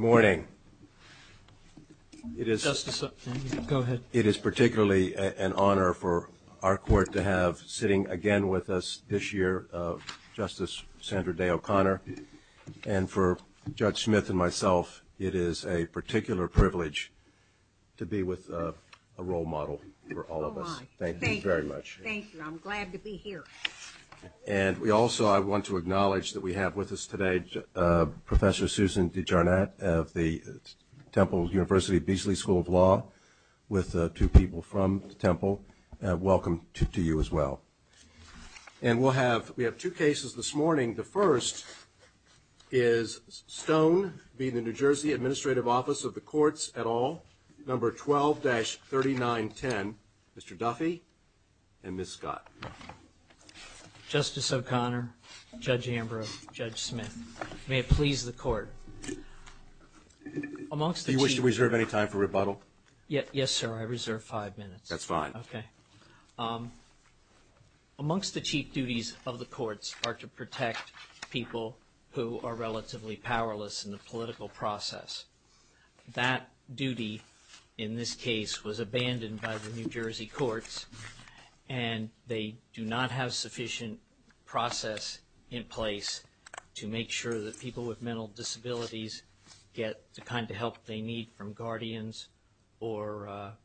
Good morning. It is particularly an honor for our court to have sitting again with us this year, Justice Sandra Day O'Connor. And for Judge Smith and myself, it is a particular privilege to be with a role model for all of us. Thank you very much. Thank you. I'm glad to be here. And we also, I want to acknowledge that we have with us today Professor Susan DeJarnatt of the Temple University Beasley School of Law, with two people from Temple. Welcome to you as well. And we'll have, we have two cases this morning. The first is Stone v. the New Jersey Administrative Office of the Courts et al., number 12-3910, Mr. Duffy and Ms. Scott. Justice O'Connor, Judge Ambrose, Judge Smith, may it please the court, amongst the chief... Do you wish to reserve any time for rebuttal? Yes, sir. I reserve five minutes. That's fine. Okay. Amongst the chief duties of the courts are to protect people who are relatively powerless in the political process. That duty, in this case, was abandoned by the New Jersey courts, and they do not have sufficient process in place to make sure that people with mental disabilities get the kind of help they need from guardians or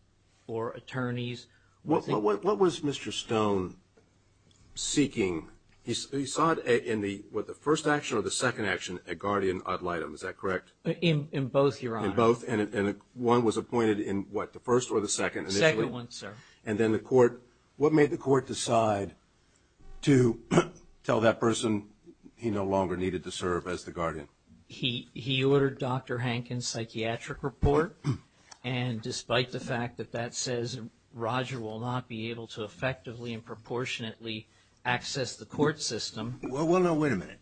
attorneys. What was Mr. Stone seeking? He saw it in the, what, the first action or the second action, a guardian ad litem, is that correct? In both, Your Honor. In both, and one was appointed in what, the first or the second? Second one, sir. And then the court, what made the court decide to tell that person he no longer needed to serve as the guardian? He ordered Dr. Hankins' psychiatric report, and despite the fact that that says Roger will not be able to effectively and proportionately access the court system... Well, no, wait a minute.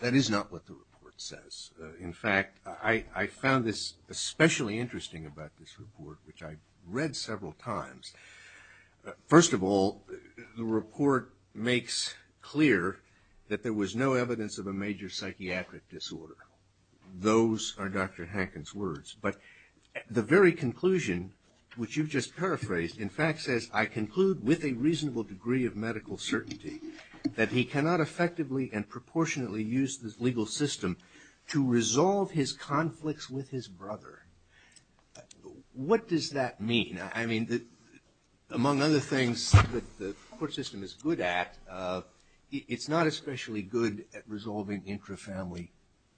That is not what the report says. In fact, I found this especially interesting about this report, which I read several times. First of all, the report makes clear that there was no evidence of a major psychiatric disorder. Those are Dr. Hankins' words. But the very conclusion, which you've just paraphrased, in fact says, I conclude with a reasonable degree of medical certainty that he cannot effectively and proportionately use the legal system to resolve his conflicts with his brother. What does that mean? I mean, among other things that the court system is good at, it's not especially good at resolving intrafamily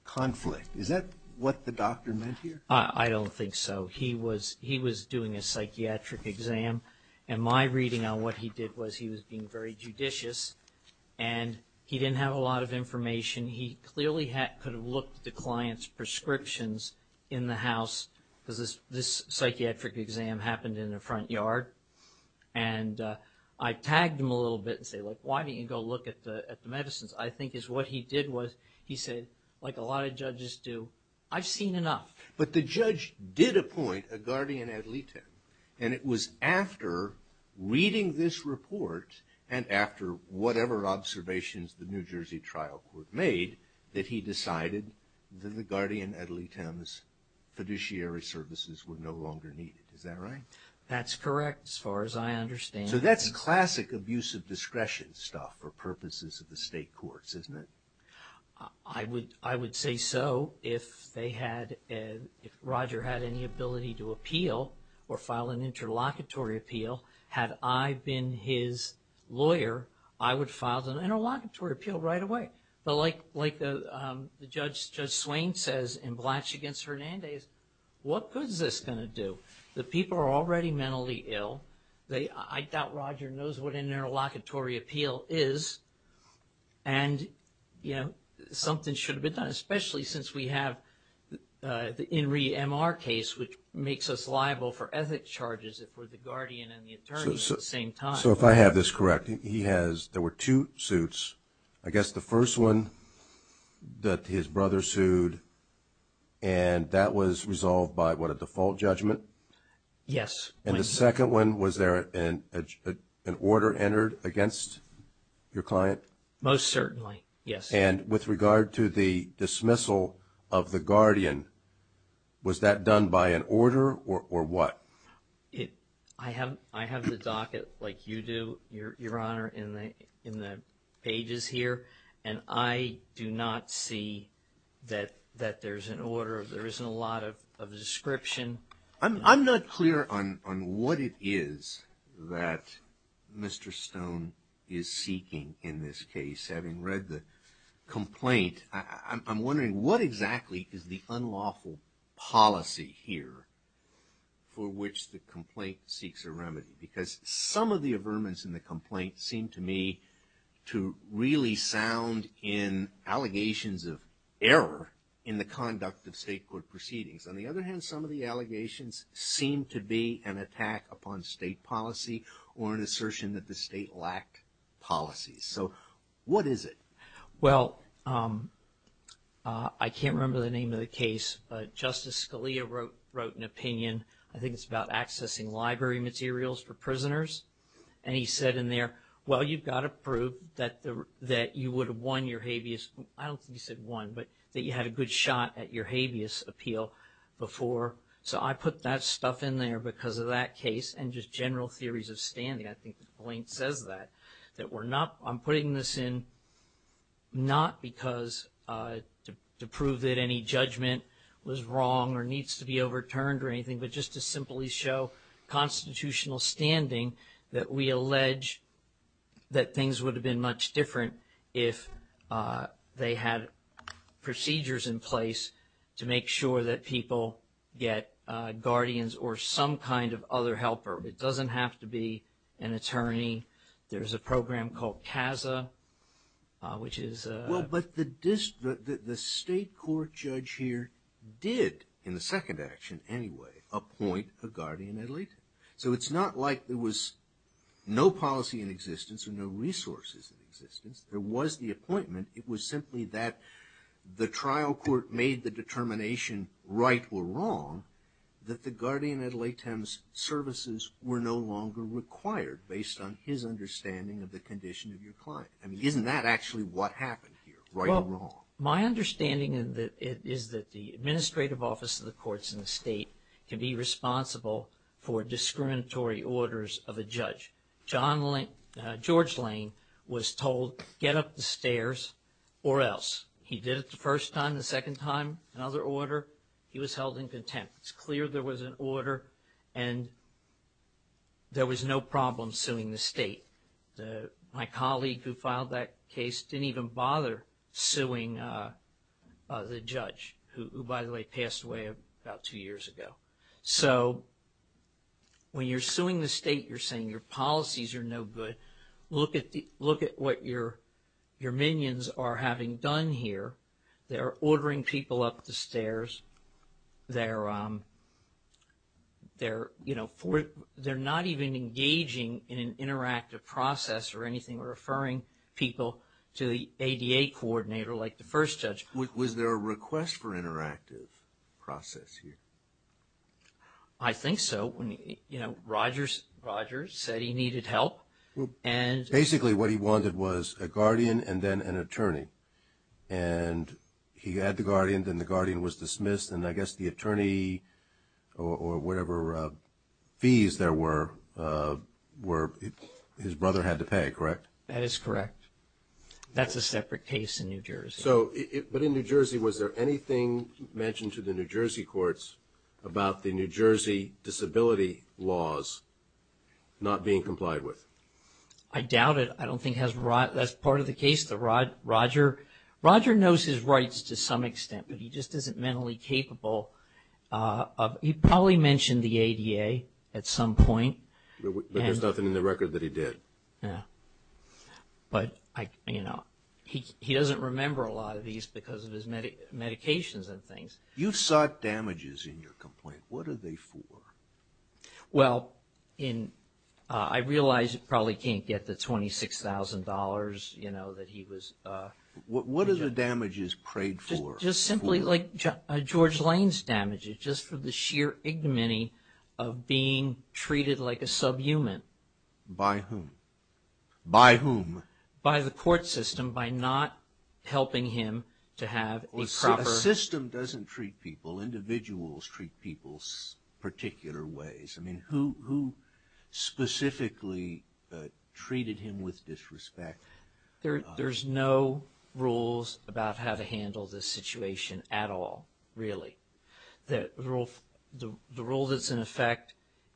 conflict. Is that what the doctor meant here? I don't think so. He was doing a psychiatric exam, and my reading on what he did was he was being very judicious, and he didn't have a lot of information. He clearly could have looked at the client's prescriptions in the house, because this psychiatric exam happened in the front yard, and I tagged him a little bit and said, like, why didn't you go look at the medicines? I think what he did was he said, like a lot of judges do, I've seen enough. But the judge did appoint a guardian ad litem, and it was after reading this report and after whatever observations the New Jersey trial court made that he decided that the guardian ad litem's fiduciary services were no longer needed. Is that right? That's correct, as far as I understand. So that's classic abuse of discretion stuff for purposes of the state courts, isn't it? I would say so if Roger had any ability to appeal or file an interlocutory appeal. Had I been his lawyer, I would file an interlocutory appeal right away. But like Judge Swain says in Blatch v. Hernandez, what good is this going to do? The people are already mentally ill. I doubt Roger knows what an interlocutory appeal is. And, you know, something should have been done, especially since we have the In Re MR case, which makes us liable for ethics charges if we're the guardian and the attorney at the same time. So if I have this correct, there were two suits. I guess the first one that his brother sued, and that was resolved by, what, a default judgment? Yes. And the second one, was there an order entered against your client? Most certainly, yes. And with regard to the dismissal of the guardian, was that done by an order or what? I have the docket like you do, Your Honor, in the pages here, and I do not see that there's an order, there isn't a lot of description. I'm not clear on what it is that Mr. Stone is seeking in this case. Having read the complaint, I'm wondering what exactly is the unlawful policy here for which the complaint seeks a remedy? Because some of the averments in the complaint seem to me to really sound in allegations of error in the conduct of state court proceedings. On the other hand, some of the allegations seem to be an attack upon state policy or an assertion that the state lacked policies. So what is it? Well, I can't remember the name of the case, but Justice Scalia wrote an opinion, I think it's about accessing library materials for prisoners, and he said in there, well, you've got to prove that you would have won your habeas, I don't think he said won, but that you had a good shot at your habeas appeal before. So I put that stuff in there because of that case and just general theories of standing. I think the complaint says that. I'm putting this in not because to prove that any judgment was wrong or needs to be overturned or anything, but just to simply show constitutional standing that we allege that things would have been much different if they had procedures in place to make sure that people get guardians or some kind of other helper. It doesn't have to be an attorney. There's a program called CASA, which is a – Well, but the state court judge here did, in the second action anyway, appoint a guardian ad litem. So it's not like there was no policy in existence or no resources in existence. There was the appointment. It was simply that the trial court made the determination right or wrong that the guardian ad litems services were no longer required based on his understanding of the condition of your client. I mean, isn't that actually what happened here, right or wrong? Well, my understanding is that the administrative office of the courts in the state can be responsible for discriminatory orders of a judge. George Lane was told, get up the stairs or else. He did it the first time, the second time, another order. He was held in contempt. It's clear there was an order, and there was no problem suing the state. My colleague who filed that case didn't even bother suing the judge, who, by the way, passed away about two years ago. So when you're suing the state, you're saying your policies are no good. Look at what your minions are having done here. They're ordering people up the stairs. They're, you know, they're not even engaging in an interactive process or anything or referring people to the ADA coordinator like the first judge. Was there a request for interactive process here? I think so. You know, Rogers said he needed help. Basically what he wanted was a guardian and then an attorney. And he had the guardian, then the guardian was dismissed, and I guess the attorney or whatever fees there were, his brother had to pay, correct? That is correct. That's a separate case in New Jersey. But in New Jersey, was there anything mentioned to the New Jersey courts about the New Jersey disability laws not being complied with? I doubt it. I don't think that's part of the case. Roger knows his rights to some extent, but he just isn't mentally capable. He probably mentioned the ADA at some point. But there's nothing in the record that he did. But, you know, he doesn't remember a lot of these because of his medications and things. You sought damages in your complaint. What are they for? Well, I realize you probably can't get the $26,000, you know, that he was... What are the damages prayed for? Just simply like George Lane's damages, just for the sheer ignominy of being treated like a subhuman. By whom? By whom? By the court system, by not helping him to have a proper... A system doesn't treat people. Individuals treat people particular ways. I mean, who specifically treated him with disrespect? There's no rules about how to handle this situation at all, really. The rule that's in effect,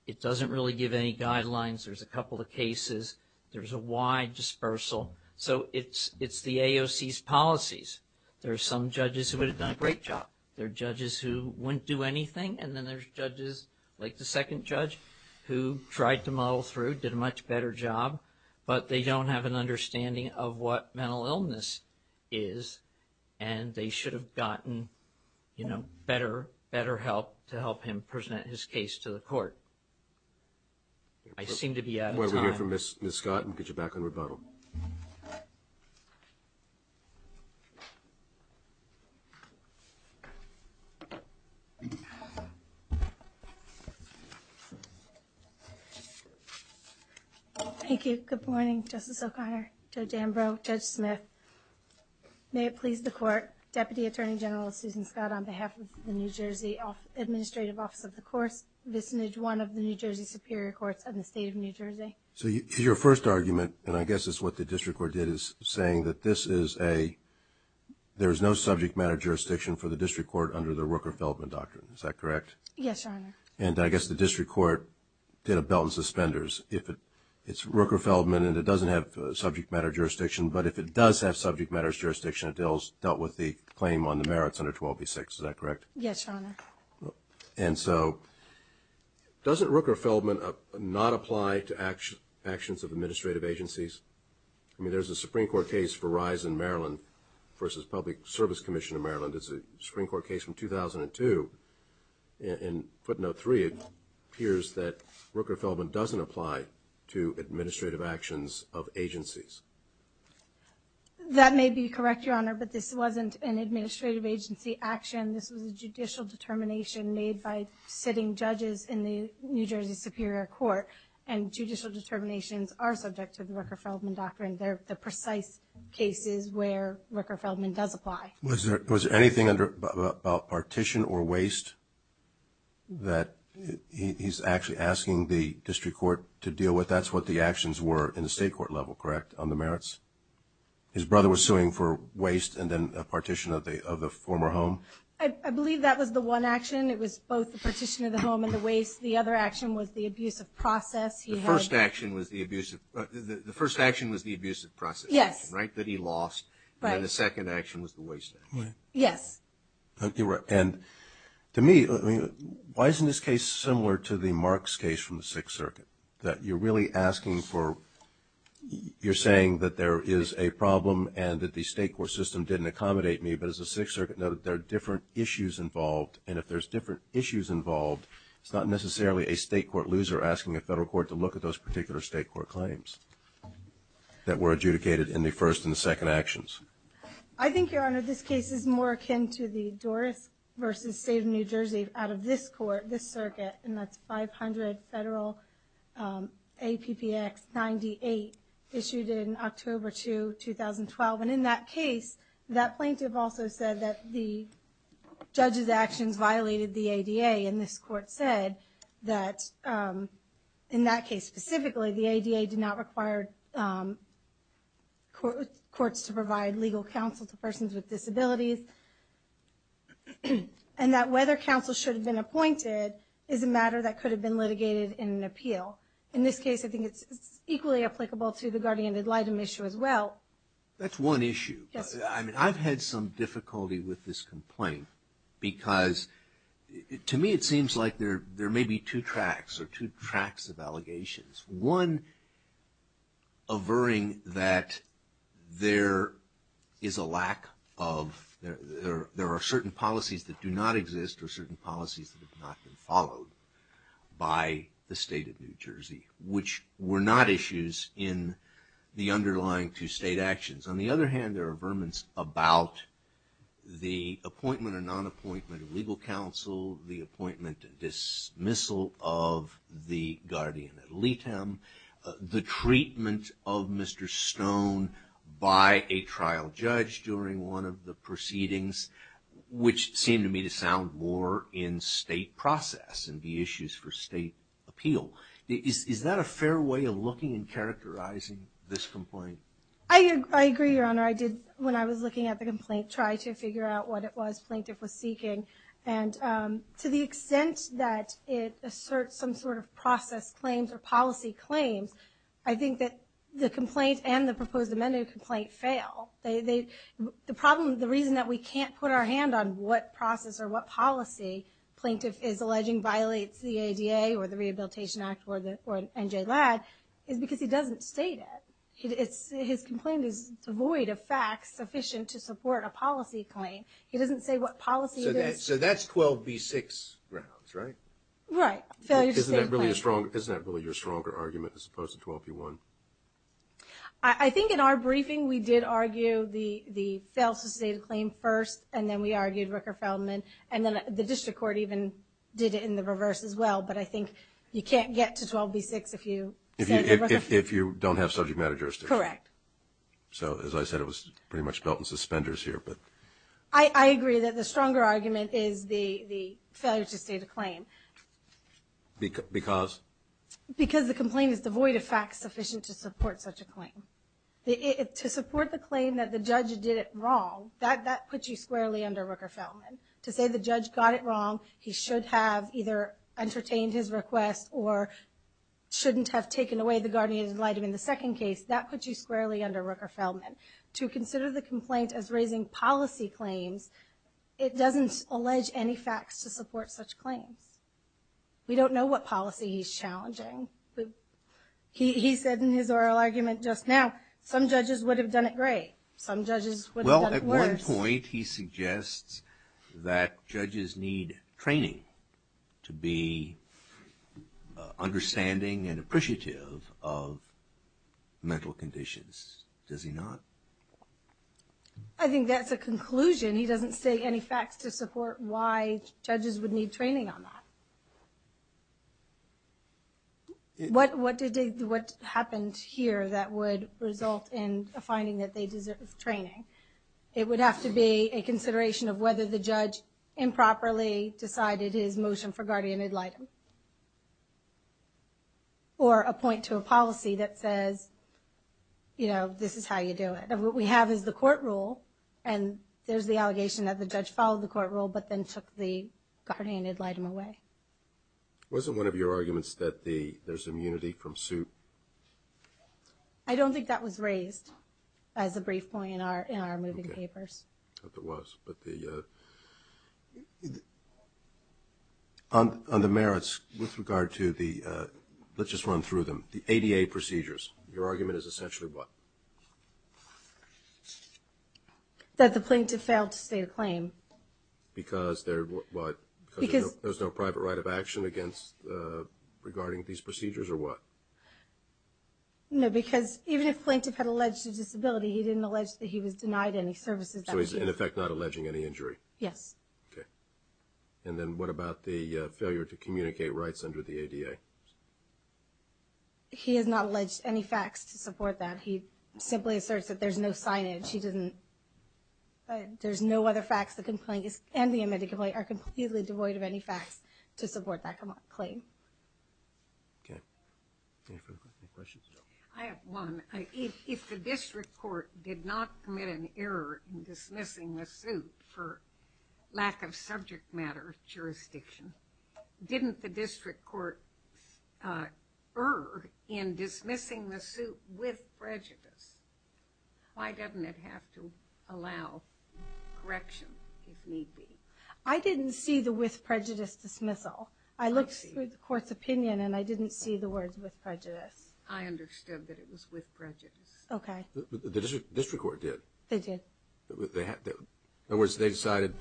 it doesn't really give any guidelines. There's a couple of cases. There's a wide dispersal. So it's the AOC's policies. There are some judges who would have done a great job. There are judges who wouldn't do anything. And then there's judges like the second judge who tried to muddle through, did a much better job. But they don't have an understanding of what mental illness is. And they should have gotten, you know, better help to help him present his case to the court. I seem to be out of time. Why don't we hear from Ms. Scott and get you back on rebuttal. Thank you. Good morning, Justice O'Connor, Judge Ambrose, Judge Smith. May it please the Court, Deputy Attorney General Susan Scott, on behalf of the New Jersey Administrative Office of the Courts, vis-a-vis one of the New Jersey Superior Courts of the State of New Jersey. So your first argument, and I guess it's what the district court did, is saying that this is a, there is no subject matter jurisdiction for the district court under the Rooker-Feldman Doctrine. Is that correct? Yes, Your Honor. And I guess the district court did a belt and suspenders. If it's Rooker-Feldman and it doesn't have subject matter jurisdiction, but if it does have subject matter jurisdiction, it dealt with the claim on the merits under 12B6. Is that correct? Yes, Your Honor. And so, doesn't Rooker-Feldman not apply to actions of administrative agencies? I mean, there's a Supreme Court case for rise in Maryland versus Public Service Commission of Maryland. It's a Supreme Court case from 2002. In footnote 3, it appears that Rooker-Feldman doesn't apply to administrative actions of agencies. That may be correct, Your Honor, but this wasn't an administrative agency action. This was a judicial determination made by sitting judges in the New Jersey Superior Court, and judicial determinations are subject to the Rooker-Feldman Doctrine. They're the precise cases where Rooker-Feldman does apply. Was there anything about partition or waste that he's actually asking the district court to deal with? That's what the actions were in the state court level, correct, on the merits? His brother was suing for waste and then a partition of the former home? I believe that was the one action. It was both the partition of the home and the waste. The other action was the abusive process. The first action was the abusive process, right, that he lost. Right. And then the second action was the waste action. Yes. You're right. And to me, why isn't this case similar to the Marks case from the Sixth Circuit, that you're really asking for you're saying that there is a problem and that the state court system didn't accommodate me, but as the Sixth Circuit noted, there are different issues involved, and if there's different issues involved, it's not necessarily a state court loser asking a federal court to look at those particular state court claims that were adjudicated in the first and the second actions. I think, Your Honor, this case is more akin to the Doris v. State of New Jersey out of this court, this circuit, and that's 500 Federal APPX 98 issued in October 2, 2012. And in that case, that plaintiff also said that the judge's actions violated the ADA, and this court said that in that case specifically, the ADA did not require courts to provide legal counsel to persons with disabilities, and that whether counsel should have been appointed is a matter that could have been litigated in an appeal. In this case, I think it's equally applicable to the guardian ad litem issue as well. That's one issue. I've had some difficulty with this complaint because to me it seems like there may be two tracks or two tracks of allegations. One averring that there is a lack of, there are certain policies that do not exist or certain policies that have not been followed by the State of New Jersey, which were not issues in the underlying two state actions. On the other hand, there are averments about the appointment or non-appointment of legal counsel, the appointment and dismissal of the guardian ad litem, the treatment of Mr. Stone by a trial judge during one of the proceedings, which seem to me to sound more in state process and be issues for state appeal. Is that a fair way of looking and characterizing this complaint? I agree, Your Honor. I did, when I was looking at the complaint, try to figure out what it was plaintiff was seeking. To the extent that it asserts some sort of process claims or policy claims, I think that the complaint and the proposed amended complaint fail. The problem, the reason that we can't put our hand on what process or what policy plaintiff is alleging violates the ADA or the Rehabilitation Act or NJ LAD is because he doesn't state it. His complaint is devoid of facts sufficient to support a policy claim. He doesn't say what policy it is. So that's 12B6 grounds, right? Failure to state a claim. Isn't that really your stronger argument as opposed to 12B1? I think in our briefing we did argue the fail to state a claim first, and then we argued Rooker-Feldman, and then the district court even did it in the reverse as well. But I think you can't get to 12B6 if you said that Rooker-Feldman. If you don't have subject matter jurisdiction. Correct. So, as I said, it was pretty much belt and suspenders here. I agree that the stronger argument is the failure to state a claim. Because? Because the complaint is devoid of facts sufficient to support such a claim. To support the claim that the judge did it wrong, that puts you squarely under Rooker-Feldman. To say the judge got it wrong, he should have either entertained his request or shouldn't have taken away the guardian's right in the second case, that puts you squarely under Rooker-Feldman. To consider the complaint as raising policy claims, it doesn't allege any facts to support such claims. We don't know what policy he's challenging. He said in his oral argument just now, some judges would have done it great, some judges would have done it worse. Well, at one point he suggests that judges need training to be understanding and appreciative of mental conditions. Does he not? I think that's a conclusion. He doesn't say any facts to support why judges would need training on that. What happened here that would result in a finding that they deserve training? It would have to be a consideration of whether the judge improperly decided his motion for guardian ad litem. Or a point to a policy that says, you know, this is how you do it. What we have is the court rule, and there's the allegation that the judge followed the court rule but then took the guardian ad litem away. Was it one of your arguments that there's immunity from suit? I don't think that was raised as a brief point in our moving papers. I hope it was. On the merits with regard to the, let's just run through them, the ADA procedures, your argument is essentially what? That the plaintiff failed to state a claim. Because there's no private right of action regarding these procedures, or what? No, because even if the plaintiff had alleged a disability, he didn't allege that he was denied any services. So he's, in effect, not alleging any injury? Yes. Okay. And then what about the failure to communicate rights under the ADA? He has not alleged any facts to support that. He simply asserts that there's no signage. He doesn't, there's no other facts. The complaint, and the admitted complaint, are completely devoid of any facts to support that claim. Okay. Any questions? I have one. If the district court did not commit an error in dismissing the suit for lack of subject matter jurisdiction, didn't the district court err in dismissing the suit with prejudice? Why doesn't it have to allow correction, if need be? I didn't see the with prejudice dismissal. I looked through the court's opinion, and I didn't see the words with prejudice. I understood that it was with prejudice. Okay. The district court did. They did. In other words, they decided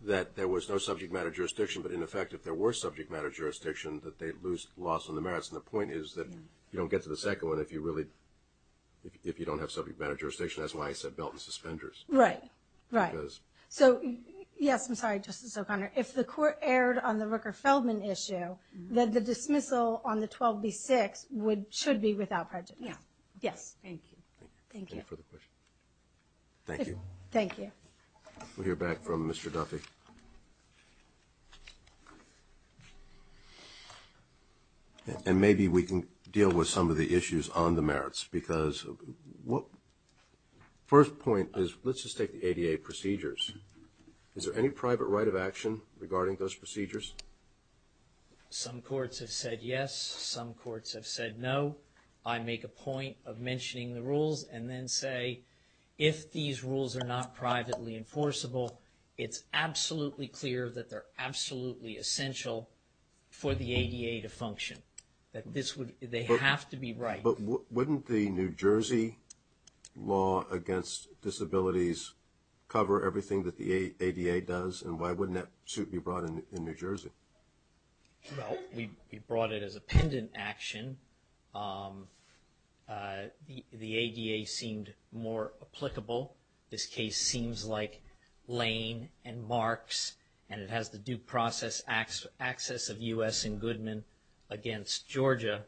that there was no subject matter jurisdiction, but, in effect, if there were subject matter jurisdiction, that they'd lose loss on the merits. And the point is that you don't get to the second one if you don't have subject matter jurisdiction. That's why I said belt and suspenders. Right. Right. So, yes, I'm sorry, Justice O'Connor. If the court erred on the Rooker-Feldman issue, then the dismissal on the 12B6 should be without prejudice. Yes. Yes. Thank you. Thank you. Any further questions? Thank you. Thank you. We'll hear back from Mr. Duffy. And maybe we can deal with some of the issues on the merits, because first point is let's just take the ADA procedures. Is there any private right of action regarding those procedures? Some courts have said yes. Some courts have said no. I make a point of mentioning the rules and then say if these rules are not privately enforceable, it's absolutely clear that they're absolutely essential for the ADA to function, that they have to be right. But wouldn't the New Jersey law against disabilities cover everything that the ADA does, and why wouldn't that suit be brought in New Jersey? Well, we brought it as a pendant action. The ADA seemed more applicable. This case seems like Lane and Marks, and it has the due process access of U.S. and Goodman against Georgia,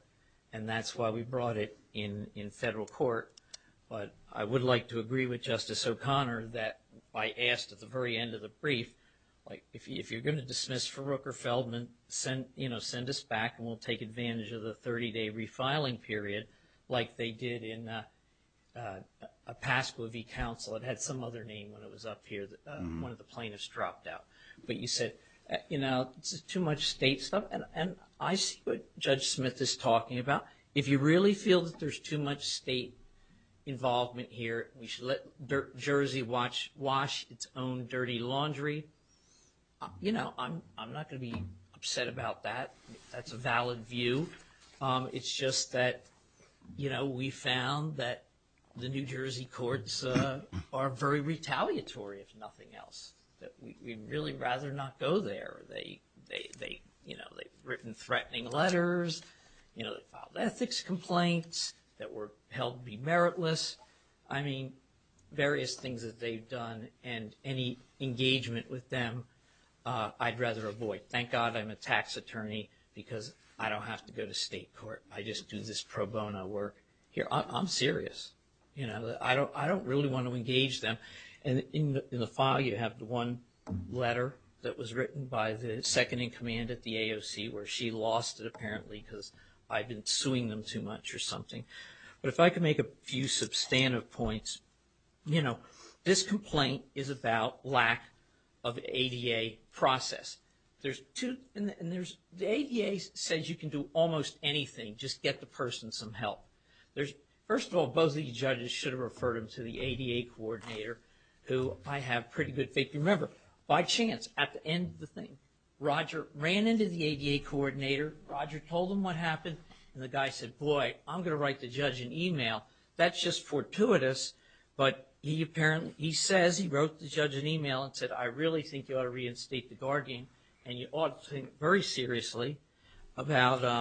and that's why we brought it in federal court. But I would like to agree with Justice O'Connor that I asked at the very end of the brief, if you're going to dismiss for Rooker-Feldman, send us back, and we'll take advantage of the 30-day refiling period like they did in Pasco v. Council. It had some other name when it was up here that one of the plaintiffs dropped out. But you said, you know, this is too much state stuff. And I see what Judge Smith is talking about. If you really feel that there's too much state involvement here, we should let Jersey wash its own dirty laundry, you know, I'm not going to be upset about that. That's a valid view. It's just that, you know, we found that the New Jersey courts are very retaliatory, if nothing else. We'd really rather not go there. They, you know, they've written threatening letters, you know, filed ethics complaints that were held to be meritless. I mean, various things that they've done and any engagement with them I'd rather avoid. Thank God I'm a tax attorney because I don't have to go to state court. I just do this pro bono work here. I'm serious. You know, I don't really want to engage them. And in the file you have the one letter that was written by the second-in-command at the AOC where she lost it apparently because I'd been suing them too much or something. But if I could make a few substantive points, you know, this complaint is about lack of ADA process. There's two, and there's, the ADA says you can do almost anything, just get the person some help. First of all, both of these judges should have referred him to the ADA coordinator, who I have pretty good faith. Remember, by chance, at the end of the thing, Roger ran into the ADA coordinator, Roger told him what happened, and the guy said, boy, I'm going to write the judge an email. That's just fortuitous. But he apparently, he says he wrote the judge an email and said, I really think you ought to reinstate the guardian, and you ought to think very seriously about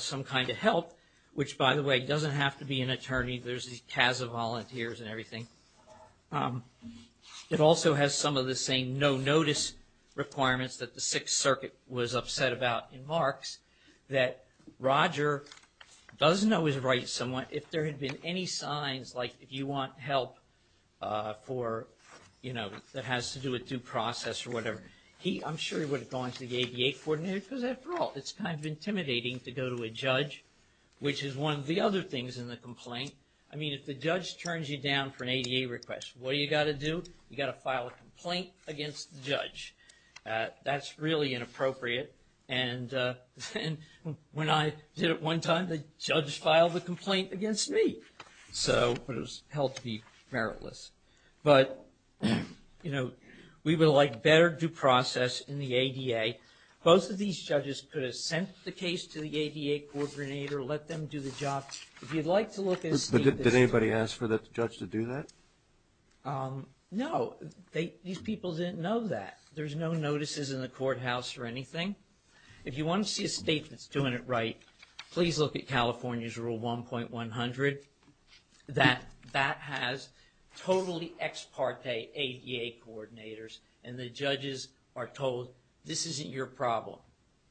some kind of help, which, by the way, doesn't have to be an attorney. There's these CASA volunteers and everything. It also has some of the same no-notice requirements that the Sixth Circuit was upset about in Marx, that Roger doesn't always write someone if there had been any signs, like, if you want help for, you know, that has to do with due process or whatever. I'm sure he would have gone to the ADA coordinator because, after all, it's kind of intimidating to go to a judge, which is one of the other things in the complaint. I mean, if the judge turns you down for an ADA request, what do you got to do? You got to file a complaint against the judge. That's really inappropriate. And when I did it one time, the judge filed a complaint against me. So it was held to be meritless. But, you know, we would like better due process in the ADA. Both of these judges could have sent the case to the ADA coordinator, let them do the job. If you'd like to look at a statement. But did anybody ask for the judge to do that? No. These people didn't know that. There's no notices in the courthouse or anything. If you want to see a statement that's doing it right, please look at California's Rule 1.100. That has totally ex parte ADA coordinators. And the judges are told, this isn't your problem.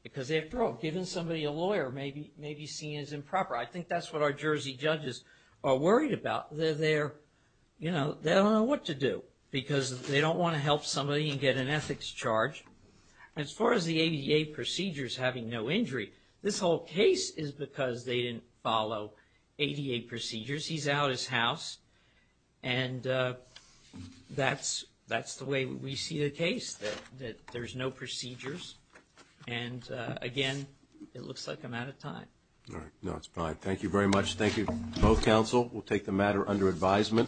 Because, after all, giving somebody a lawyer may be seen as improper. I think that's what our Jersey judges are worried about. They don't know what to do. Because they don't want to help somebody and get an ethics charge. As far as the ADA procedures having no injury, this whole case is because they didn't follow ADA procedures. He's out of his house. And that's the way we see the case, that there's no procedures. And, again, it looks like I'm out of time. All right. No, it's fine. Thank you very much. Thank you to both counsel. We'll take the matter under advisement.